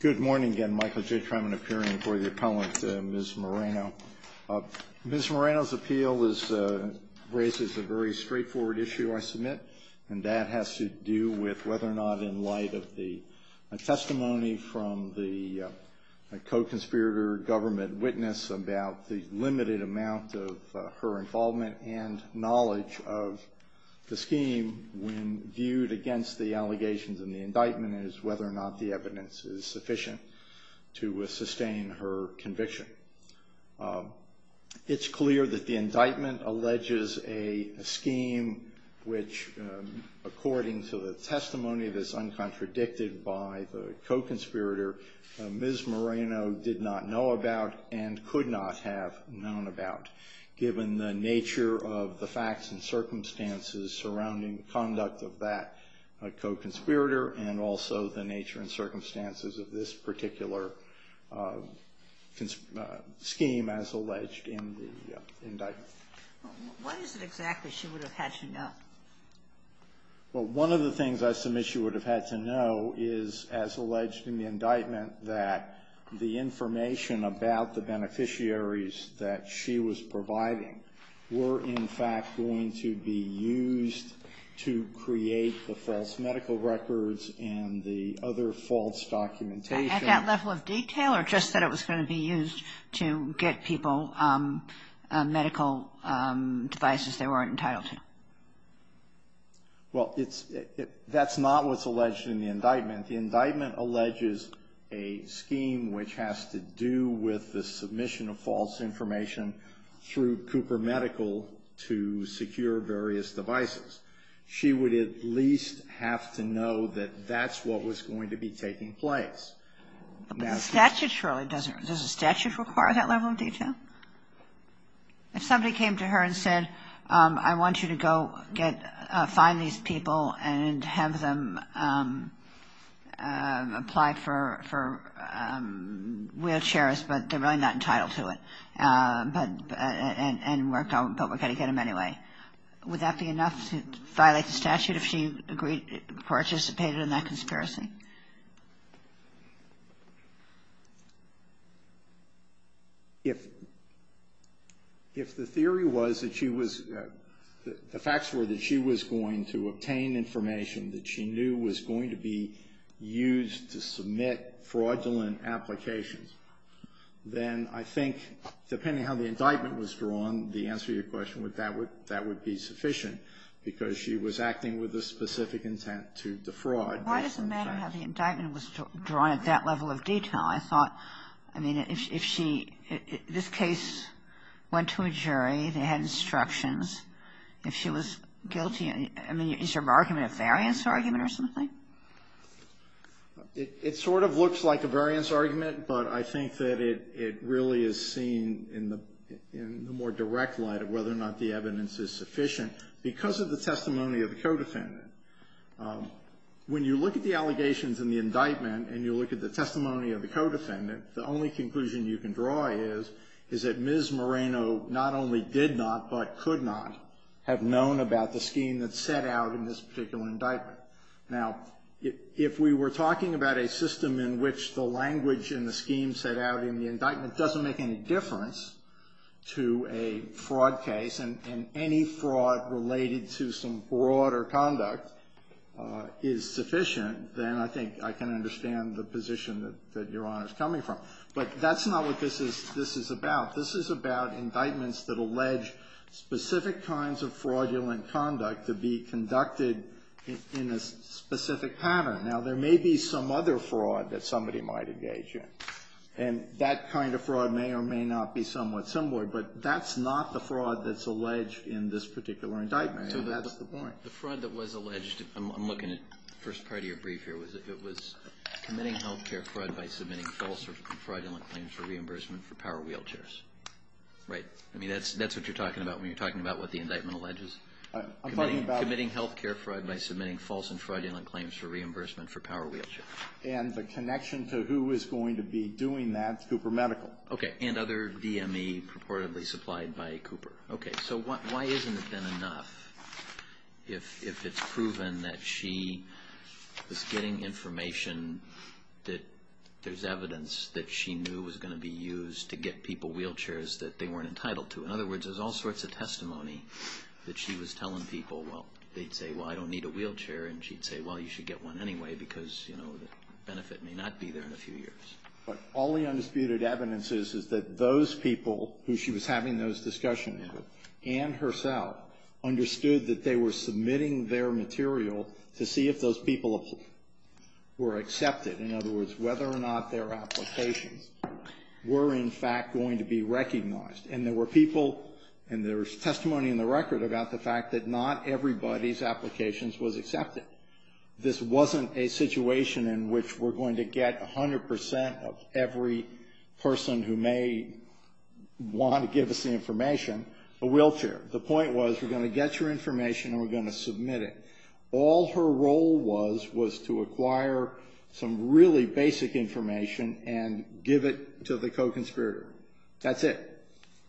Good morning again, Michael J. Truman, appearing before the appellant, Ms. Moreno. Ms. Moreno's appeal raises a very straightforward issue I submit, and that has to do with whether or not, in light of the testimony from the co-conspirator government witness about the limited amount of her involvement and knowledge of the scheme, when viewed against the allegations in the indictment, is whether or not the evidence is sufficient to sustain her conviction. It's clear that the indictment alleges a scheme which, according to the testimony that's uncontradicted by the co-conspirator, Ms. Moreno did not know about and could not have known about, given the nature of the facts and circumstances surrounding the conduct of that co-conspirator and also the nature and circumstances of this particular scheme, as alleged in the indictment. What is it exactly she would have had to know? One of the things I submit she would have had to know is, as alleged in the indictment, that the information about the beneficiaries that she was providing were, in fact, going to be used to create the false medical records and the other false documentation. At that level of detail, or just that it was going to be used to get people medical devices they weren't entitled to? Well, that's not what's alleged in the indictment. The indictment alleges a scheme which has to do with the submission of false information through Cooper Medical to secure various devices. She would at least have to know that that's what was going to be taking place. But the statute surely doesn't require that level of detail. If somebody came to her and said, I want you to go find these people and have them apply for wheelchairs, but they're really not entitled to it, and we're going to get them anyway, would that be enough to violate the statute if she participated in that conspiracy? If the theory was that she was the facts were that she was going to obtain information that she knew was going to be used to submit fraudulent applications, then I think, depending on how the indictment was drawn, the answer to your question, that would be sufficient, because she was acting with a specific intent to defraud. Why does it matter how the indictment was drawn at that level of detail? I thought, I mean, if she, this case went to a jury. They had instructions. If she was guilty, I mean, is your argument a variance argument or something? It sort of looks like a variance argument, but I think that it really is seen in the more direct light of whether or not the evidence is sufficient. Because of the testimony of the co-defendant, when you look at the allegations in the indictment and you look at the testimony of the co-defendant, the only conclusion you can draw is that Ms. Moreno not only did not, but could not have known about the scheme that set out in this particular indictment. Now, if we were talking about a system in which the language in the scheme set out in the indictment doesn't make any difference to a fraud case, and any fraud related to some fraud or conduct is sufficient, then I think I can understand the position that Your Honor is coming from. But that's not what this is about. This is about indictments that allege specific kinds of fraudulent conduct to be conducted in a specific pattern. Now, there may be some other fraud that somebody might engage in, and that kind of fraud may or may not be somewhat similar, but that's not the fraud that's alleged in this particular indictment. So that's the point. The fraud that was alleged, I'm looking at the first part of your brief here, was committing health care fraud by submitting false and fraudulent claims for reimbursement for power wheelchairs. Right? I mean, that's what you're talking about when you're talking about what the indictment alleges? I'm talking about committing health care fraud by submitting false and fraudulent claims for reimbursement for power wheelchairs. And the connection to who is going to be doing that is Cooper Medical. Okay. And other DME purportedly supplied by Cooper. Okay. So why isn't it then enough if it's proven that she was getting information that there's evidence that she knew was going to be used to get people wheelchairs that they weren't entitled to? In other words, there's all sorts of testimony that she was telling people. Well, they'd say, well, I don't need a wheelchair, and she'd say, well, you should get one anyway because, you know, the benefit may not be there in a few years. But all the undisputed evidence is is that those people who she was having those discussions with and herself understood that they were submitting their material to see if those people were accepted. In other words, whether or not their applications were, in fact, going to be recognized. And there were people and there was testimony in the record about the fact that not everybody's applications was accepted. This wasn't a situation in which we're going to get 100% of every person who may want to give us the information a wheelchair. The point was we're going to get your information and we're going to submit it. All her role was was to acquire some really basic information and give it to the co-conspirator. That's it.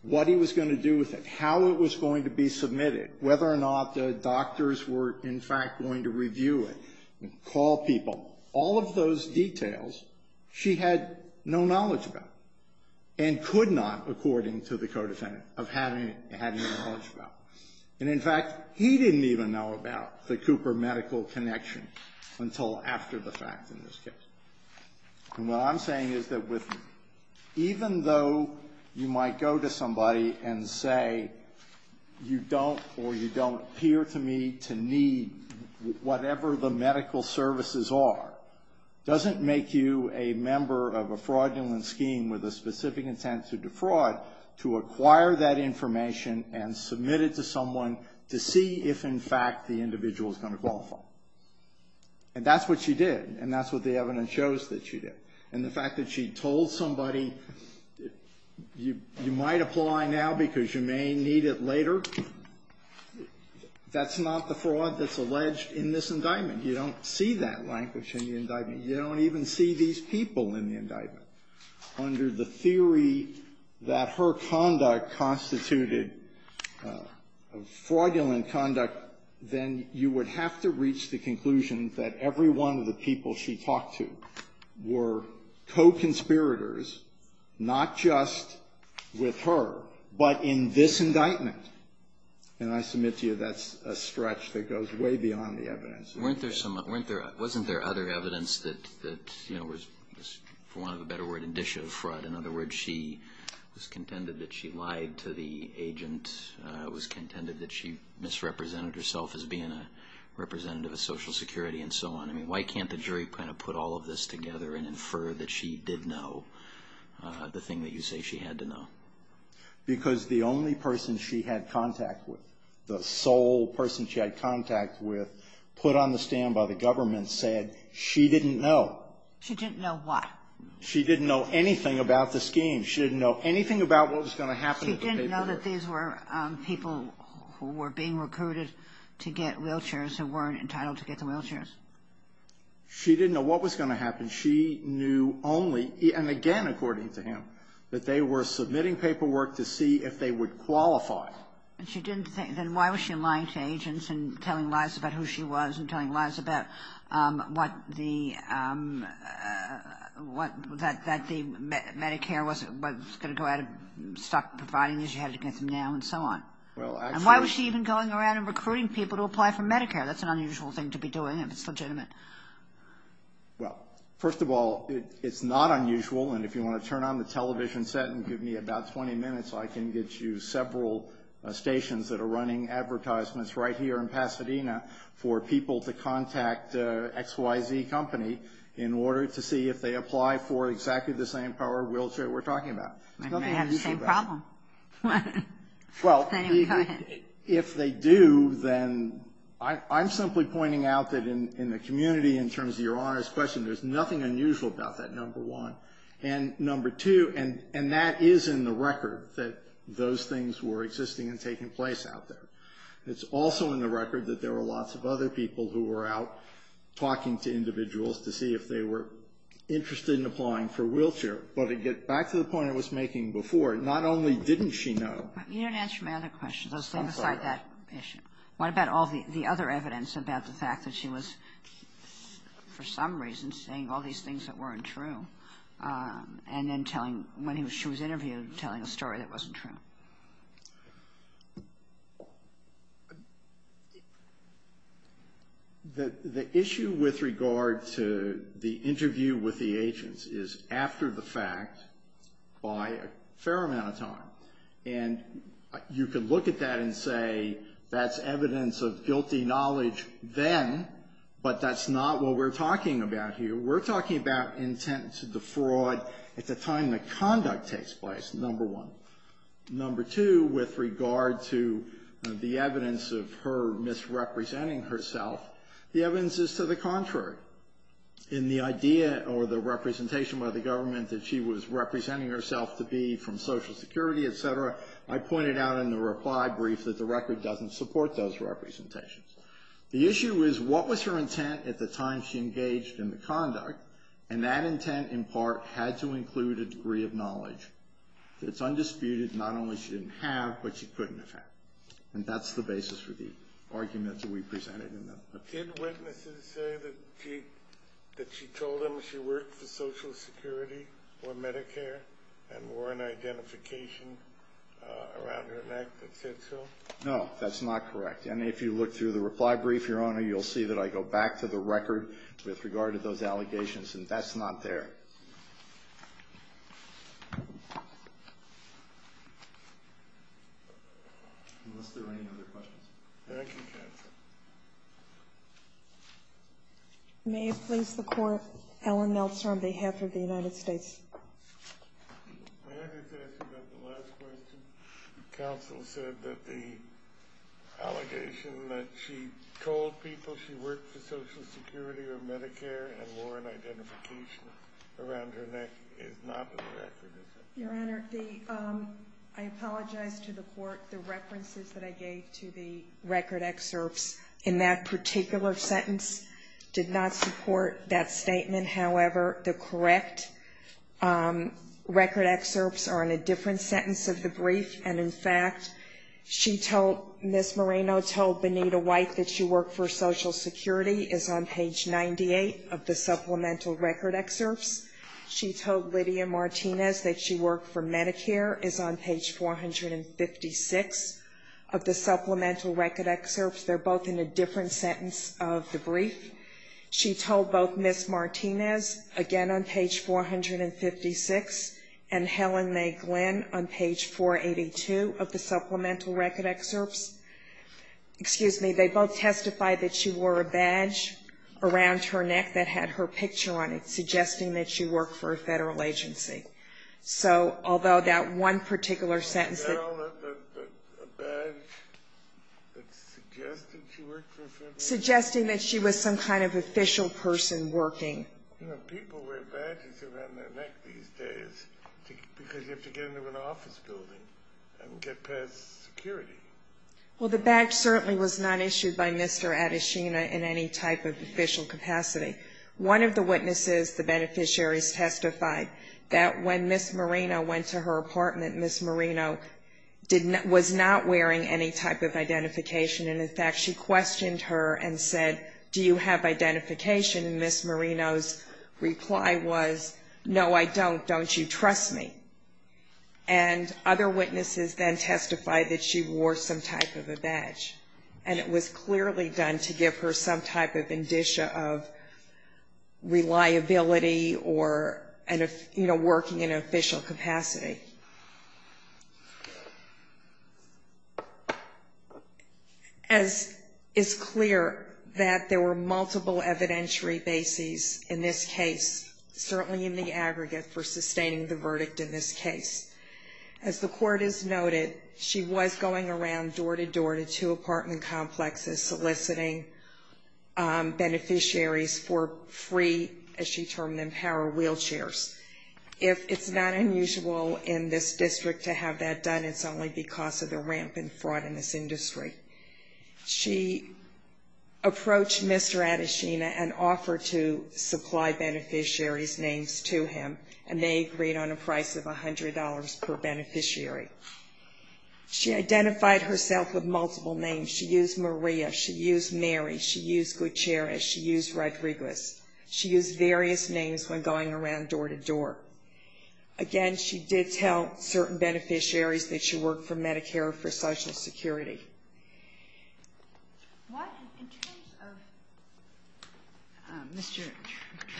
What he was going to do with it. How it was going to be submitted. Whether or not the doctors were, in fact, going to review it and call people. All of those details she had no knowledge about and could not, according to the co-defendant, of having had any knowledge about. And, in fact, he didn't even know about the Cooper medical connection until after the fact in this case. And what I'm saying is that even though you might go to somebody and say, you don't or you don't appear to me to need whatever the medical services are, doesn't make you a member of a fraudulent scheme with a specific intent to defraud to acquire that information and submit it to someone to see if, in fact, the individual is going to qualify. And that's what she did. And that's what the evidence shows that she did. And the fact that she told somebody, you might apply now because you may need it later, that's not the fraud that's alleged in this indictment. You don't see that language in the indictment. You don't even see these people in the indictment. Under the theory that her conduct constituted fraudulent conduct, then you would have to reach the conclusion that every one of the people she talked to were co-conspirators, not just with her, but in this indictment. And I submit to you that's a stretch that goes way beyond the evidence. Wasn't there other evidence that was, for want of a better word, indicative fraud? In other words, she was contended that she lied to the agent, was contended that she misrepresented herself as being a representative of Social Security, and so on. I mean, why can't the jury kind of put all of this together and infer that she did know the thing that you say she had to know? Because the only person she had contact with, the sole person she had contact with, put on the stand by the government, said she didn't know. She didn't know what? She didn't know anything about the scheme. She didn't know anything about what was going to happen. She didn't know that these were people who were being recruited to get wheelchairs, who weren't entitled to get the wheelchairs. She didn't know what was going to happen. She knew only, and again according to him, that they were submitting paperwork to see if they would qualify. Then why was she lying to agents and telling lies about who she was and telling lies about what the Medicare was going to go out of stock, providing that you had to get them now, and so on? And why was she even going around and recruiting people to apply for Medicare? That's an unusual thing to be doing if it's legitimate. Well, first of all, it's not unusual, and if you want to turn on the television set and give me about 20 minutes, I can get you several stations that are running advertisements right here in Pasadena for people to contact XYZ Company in order to see if they apply for exactly the same power wheelchair we're talking about. They may have the same problem. Anyway, go ahead. If they do, then I'm simply pointing out that in the community, in terms of Your Honor's question, there's nothing unusual about that, number one. And number two, and that is in the record that those things were existing and taking place out there. It's also in the record that there were lots of other people who were out talking to individuals to see if they were interested in applying for wheelchair. But to get back to the point I was making before, not only didn't she know. You didn't answer my other question. I'll stay beside that issue. What about all the other evidence about the fact that she was, for some reason, saying all these things that weren't true, and then telling, when she was interviewed, telling a story that wasn't true? The issue with regard to the interview with the agents is after the fact, by a fair amount of time. And you could look at that and say that's evidence of guilty knowledge then, but that's not what we're talking about here. We're talking about intent to defraud at the time the conduct takes place, number one. Number two, with regard to the evidence of her misrepresenting herself, the evidence is to the contrary. In the idea or the representation by the government that she was representing herself to be from Social Security, et cetera, I pointed out in the reply brief that the record doesn't support those representations. The issue is what was her intent at the time she engaged in the conduct, and that intent, in part, had to include a degree of knowledge. It's undisputed, not only she didn't have, but she couldn't have had. And that's the basis for the arguments that we presented in the report. Did witnesses say that she told them she worked for Social Security or Medicare and were an identification around her neck that said so? No, that's not correct. And if you look through the reply brief, Your Honor, you'll see that I go back to the record with regard to those allegations, and that's not there. Thank you. Unless there are any other questions. Thank you, counsel. May it please the Court, Ellen Meltzer on behalf of the United States. May I just ask about the last question? Counsel said that the allegation that she told people she worked for Social Security or Medicare and were an identification around her neck is not in the record, is it? Your Honor, I apologize to the Court. The references that I gave to the record excerpts in that particular sentence did not support that statement. However, the correct record excerpts are in a different sentence of the brief, and in fact, she told Ms. Moreno told Benita White that she worked for Social Security is on page 98 of the supplemental record excerpts. She told Lydia Martinez that she worked for Medicare is on page 456 of the supplemental record excerpts. They're both in a different sentence of the brief. She told both Ms. Martinez, again on page 456, and Helen May Glenn on page 482 of the supplemental record excerpts. Excuse me. They both testified that she wore a badge around her neck that had her picture on it, suggesting that she worked for a federal agency. So although that one particular sentence that A badge that suggested she worked for a federal agency? Suggesting that she was some kind of official person working. You know, people wear badges around their neck these days because you have to get into an office building and get past security. Well, the badge certainly was not issued by Mr. Adesina in any type of official capacity. One of the witnesses, the beneficiaries, testified that when Ms. Moreno went to her apartment, Ms. Moreno was not wearing any type of identification. And, in fact, she questioned her and said, do you have identification? And Ms. Moreno's reply was, no, I don't. Don't you trust me? And other witnesses then testified that she wore some type of a badge. And it was clearly done to give her some type of indicia of reliability or, you know, working in an official capacity. As is clear that there were multiple evidentiary bases in this case, certainly in the aggregate for sustaining the verdict in this case. As the court has noted, she was going around door to door to two apartment complexes soliciting beneficiaries for free, as she termed them, power wheelchairs. If it's not unusual in this district to have that done, it's only because of the rampant fraud in this industry. She approached Mr. Adesina and offered to supply beneficiaries' names to him, and they agreed on a price of $100 per beneficiary. She identified herself with multiple names. She used Maria. She used Mary. She used Gutierrez. She used Rodriguez. She used various names when going around door to door. Again, she did tell certain beneficiaries that she worked for Medicare or for Social Security. Sotomayor, what in terms of Mr.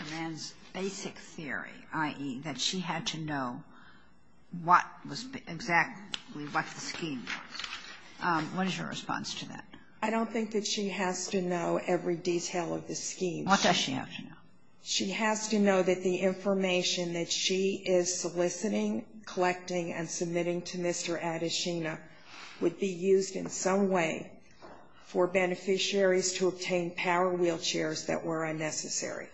Tremaine's basic theory, i.e., that she had to know what was exactly what the scheme was, what is your response to that? I don't think that she has to know every detail of the scheme. What does she have to know? She has to know that the information that she is soliciting, collecting, and submitting to Mr. Adesina would be used in some way for beneficiaries to obtain power wheelchairs that were unnecessary.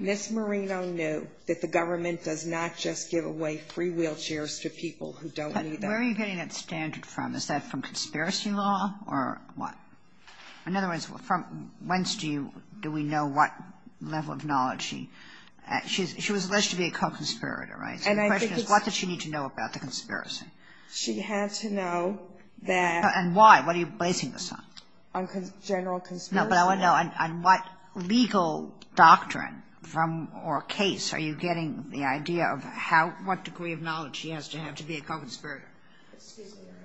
Ms. Marino knew that the government does not just give away free wheelchairs to people who don't need them. And where are you getting that standard from? Is that from conspiracy law or what? In other words, from whence do you do we know what level of knowledge she has? She was alleged to be a co-conspirator, right? The question is, what did she need to know about the conspiracy? She had to know that. And why? What are you basing this on? On general conspiracy law. No, but I want to know, on what legal doctrine or case are you getting the idea of what degree of knowledge she has to have to be a co-conspirator? Excuse me, Your Honor.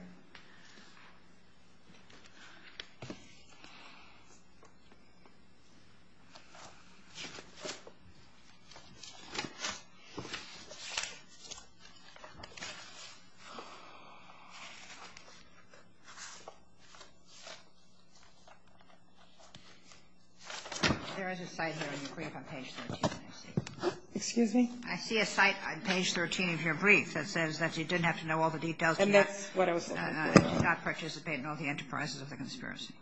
There is a site here in your brief on page 13 that I see. Excuse me? I see a site on page 13 of your brief that says that she didn't have to know all the details to not participate in all the enterprises of the conspiracy.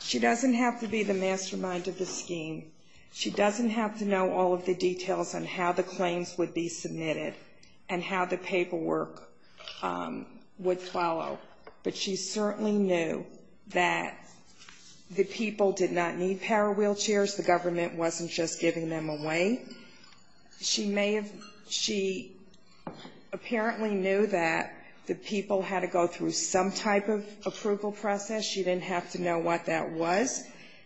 She doesn't have to be the mastermind of the scheme. She doesn't have to know all of the details on how the claims would be submitted and how the paperwork would follow. But she certainly knew that the people did not need power wheelchairs. The government wasn't just giving them away. She may have ñ she apparently knew that the people had to go through some type of approval process. She didn't have to know what that was.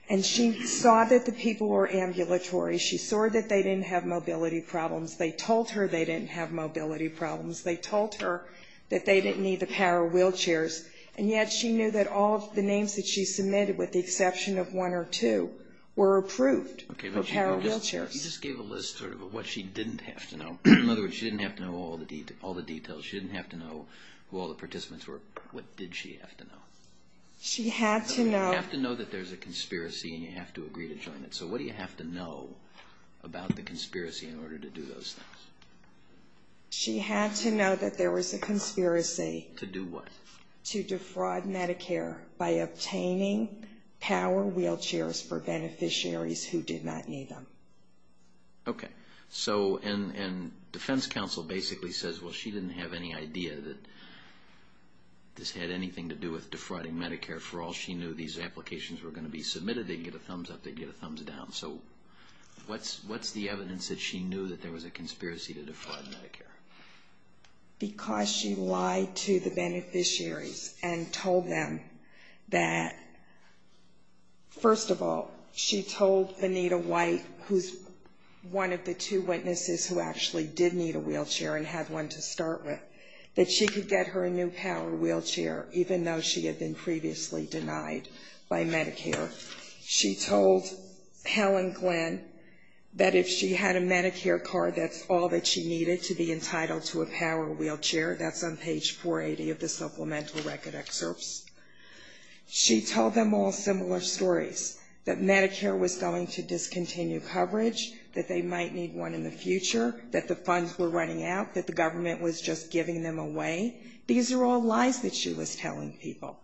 And she saw that the people were ambulatory. She saw that they didn't have mobility problems. They told her they didn't have mobility problems. They told her that they didn't need the power wheelchairs. And yet she knew that all of the names that she submitted, with the exception of one or two, were approved for power wheelchairs. You just gave a list sort of of what she didn't have to know. In other words, she didn't have to know all the details. She didn't have to know who all the participants were. What did she have to know? She had to know. You have to know that there's a conspiracy and you have to agree to join it. So what do you have to know about the conspiracy in order to do those things? She had to know that there was a conspiracy. To do what? To defraud Medicare by obtaining power wheelchairs for beneficiaries who did not need them. Okay. And defense counsel basically says, well, she didn't have any idea that this had anything to do with defrauding Medicare. For all she knew, these applications were going to be submitted. They'd get a thumbs up. They'd get a thumbs down. So what's the evidence that she knew that there was a conspiracy to defraud Medicare? Because she lied to the beneficiaries and told them that, first of all, she told Anita White, who's one of the two witnesses who actually did need a wheelchair and had one to start with, that she could get her a new power wheelchair even though she had been previously denied by Medicare. She told Helen Glenn that if she had a Medicare card, that's all that she needed to be entitled to a power wheelchair. That's on page 480 of the supplemental record excerpts. She told them all similar stories, that Medicare was going to discontinue coverage, that they might need one in the future, that the funds were running out, that the government was just giving them away. These are all lies that she was telling people.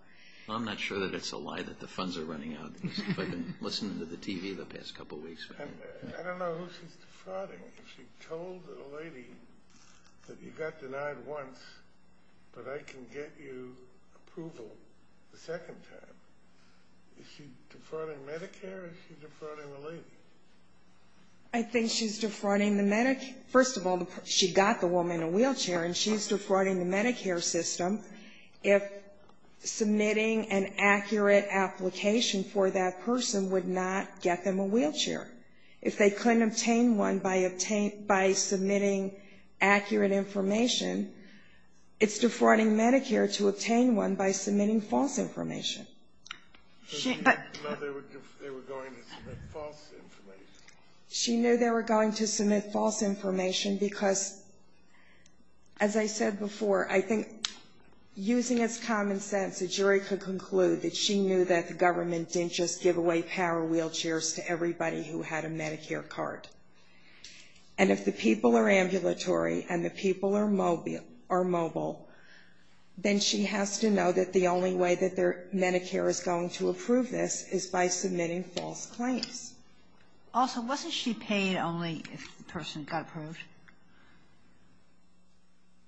I'm not sure that it's a lie that the funds are running out. I've been listening to the TV the past couple weeks. And I don't know who she's defrauding. She told a lady that you got denied once, but I can get you approval the second time. Is she defrauding Medicare or is she defrauding the lady? I think she's defrauding the Medicare. First of all, she got the woman a wheelchair, and she's defrauding the Medicare system if submitting an accurate application for that person would not get them a wheelchair. If they couldn't obtain one by submitting accurate information, it's defrauding Medicare to obtain one by submitting false information. She knew they were going to submit false information because, as I said before, I think using as common sense, the jury could conclude that she knew that the government didn't just give away power wheelchairs to everybody who had a Medicare card. And if the people are ambulatory and the people are mobile, then she has to know that the only way that Medicare is going to approve this is by submitting false claims. Also, wasn't she paid only if the person got approved?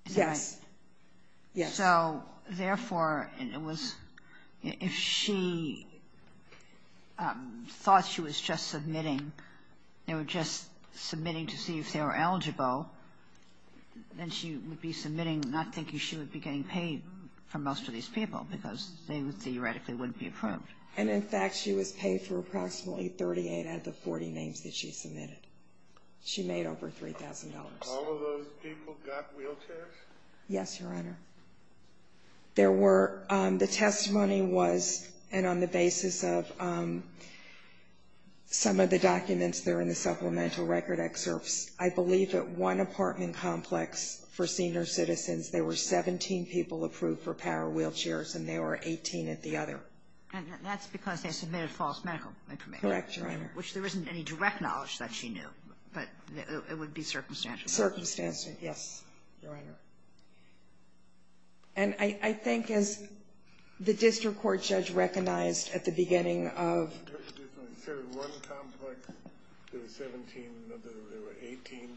Yes. Yes. So, therefore, it was if she thought she was just submitting, they were just submitting to see if they were eligible, then she would be submitting, not thinking she would be getting paid for most of these people because they theoretically wouldn't be approved. And, in fact, she was paid for approximately 38 out of the 40 names that she submitted. She made over $3,000. All of those people got wheelchairs? Yes, Your Honor. There were the testimony was, and on the basis of some of the documents that are in the supplemental record excerpts, I believe that one apartment complex for senior citizens, there were 17 people approved for power wheelchairs and there were 18 at the other. And that's because they submitted false medical information. Correct, Your Honor. Which there isn't any direct knowledge that she knew, but it would be circumstantial. Circumstantial. Yes, Your Honor. And I think as the district court judge recognized at the beginning of... You said one complex, there were 17 and there were 18?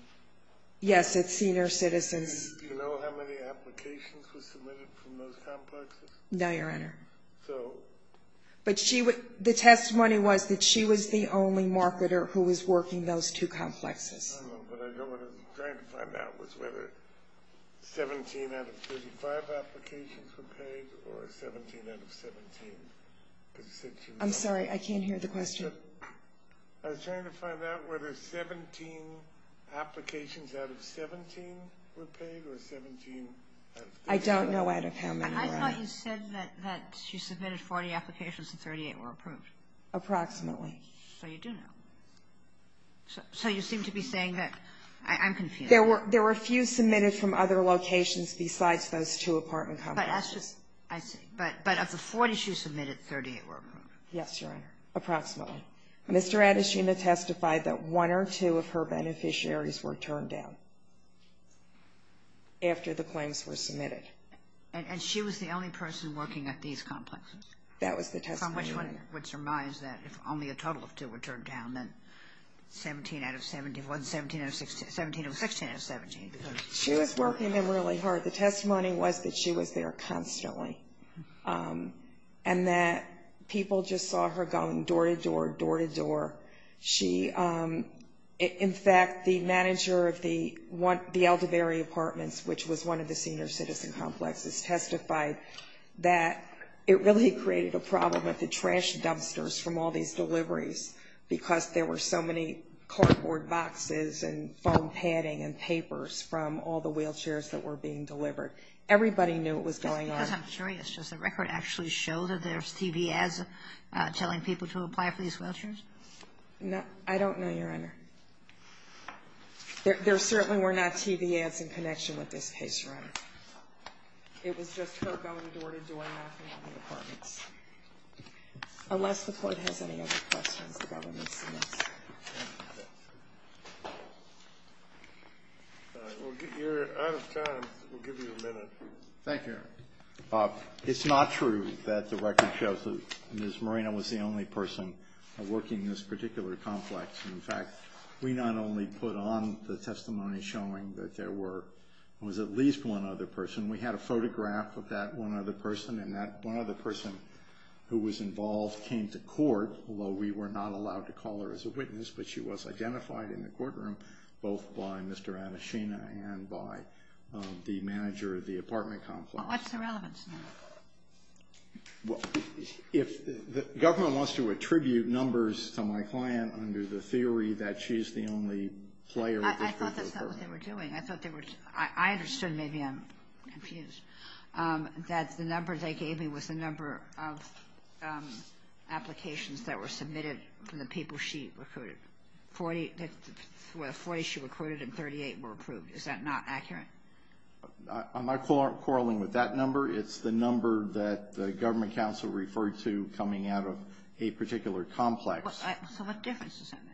Yes, at senior citizens. Do you know how many applications were submitted from those complexes? No, Your Honor. So... But the testimony was that she was the only marketer who was working those two complexes. I know, but what I was trying to find out was whether 17 out of 35 applications were paid or 17 out of 17. I'm sorry, I can't hear the question. I was trying to find out whether 17 applications out of 17 were paid or 17... I thought you said that she submitted 40 applications and 38 were approved. Approximately. So you do know. So you seem to be saying that... I'm confused. There were a few submitted from other locations besides those two apartment complexes. I see. But of the 40 she submitted, 38 were approved. Yes, Your Honor. Approximately. Mr. Adeshina testified that one or two of her beneficiaries were turned down after the claims were submitted. And she was the only person working at these complexes? That was the testimony. Which reminds that if only a total of two were turned down, then 17 out of 71, 17 out of 16... 17 out of 16 out of 17. She was working them really hard. The testimony was that she was there constantly and that people just saw her going door to door, door to door. In fact, the manager of the Aldebary Apartments, which was one of the senior citizen complexes, testified that it really created a problem with the trash dumpsters from all these deliveries because there were so many cardboard boxes and foam padding and papers from all the wheelchairs that were being delivered. Everybody knew what was going on. Because I'm curious. Does the record actually show that there's TV ads telling people to apply for these wheelchairs? I don't know, Your Honor. There certainly were not TV ads in connection with this case, Your Honor. It was just her going door to door knocking on the apartments. Unless the Court has any other questions, the government submits. All right. You're out of time. We'll give you a minute. Thank you, Your Honor. It's not true that the record shows that Ms. Moreno was the only person working this particular complex. In fact, we not only put on the testimony showing that there was at least one other person. We had a photograph of that one other person, and that one other person who was involved came to court, although we were not allowed to call her as a witness, but she was identified in the courtroom, both by Mr. Anishina and by the manager of the apartment complex. What's the relevance now? The government wants to attribute numbers to my client under the theory that she's the only player. I thought that's not what they were doing. I understood, maybe I'm confused, that the number they gave me was the number of applications that were submitted from the people she recruited. Well, 40 she recruited and 38 were approved. Is that not accurate? Am I quarreling with that number? It's the number that the government counsel referred to coming out of a particular complex. So what difference does that make?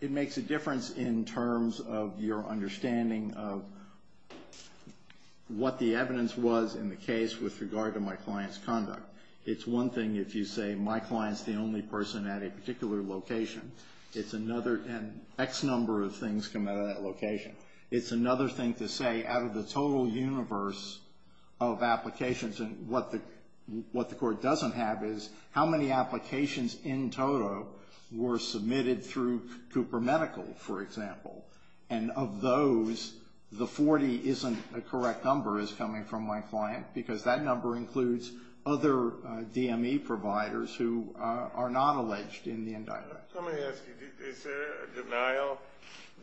It makes a difference in terms of your understanding of what the evidence was in the case with regard to my client's conduct. It's one thing if you say my client's the only person at a particular location. It's another, and X number of things come out of that location. It's another thing to say out of the total universe of applications, and what the court doesn't have is how many applications in total were submitted through Cooper Medical, for example. And of those, the 40 isn't a correct number is coming from my client because that number includes other DME providers who are not alleged in the indictment. Let me ask you, is there a denial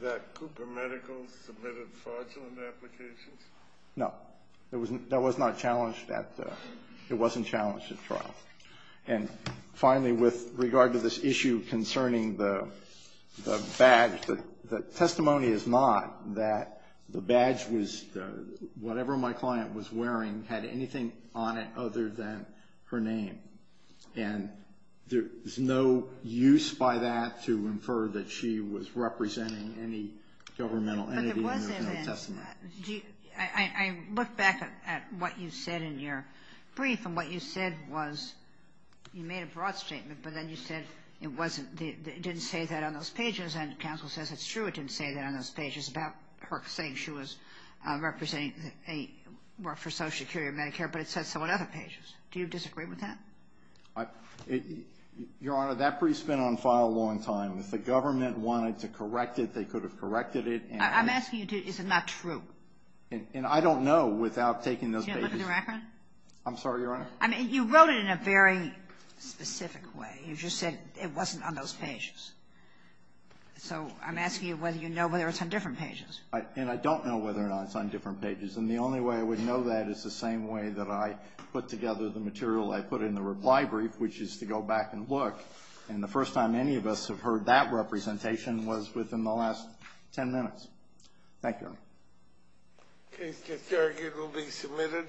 that Cooper Medical submitted fraudulent applications? No. That was not challenged at trial. And finally, with regard to this issue concerning the badge, the testimony is not that the badge was, whatever my client was wearing had anything on it other than her name. And there's no use by that to infer that she was representing any governmental entity in her testimony. But there was evidence. I looked back at what you said in your brief, and what you said was you made a broad statement, but then you said it wasn't, it didn't say that on those pages. And counsel says it's true it didn't say that on those pages about her saying she was representing, worked for Social Security or Medicare, but it said so on other pages. Do you disagree with that? Your Honor, that brief's been on file a long time. If the government wanted to correct it, they could have corrected it. I'm asking you, is it not true? And I don't know without taking those babies. Did you look at the record? I'm sorry, Your Honor? I mean, you wrote it in a very specific way. You just said it wasn't on those pages. So I'm asking you whether you know whether it's on different pages. And I don't know whether or not it's on different pages. And the only way I would know that is the same way that I put together the material I put in the reply brief, which is to go back and look. And the first time any of us have heard that representation was within the last 10 minutes. Thank you, Your Honor. Okay. The charge will be submitted.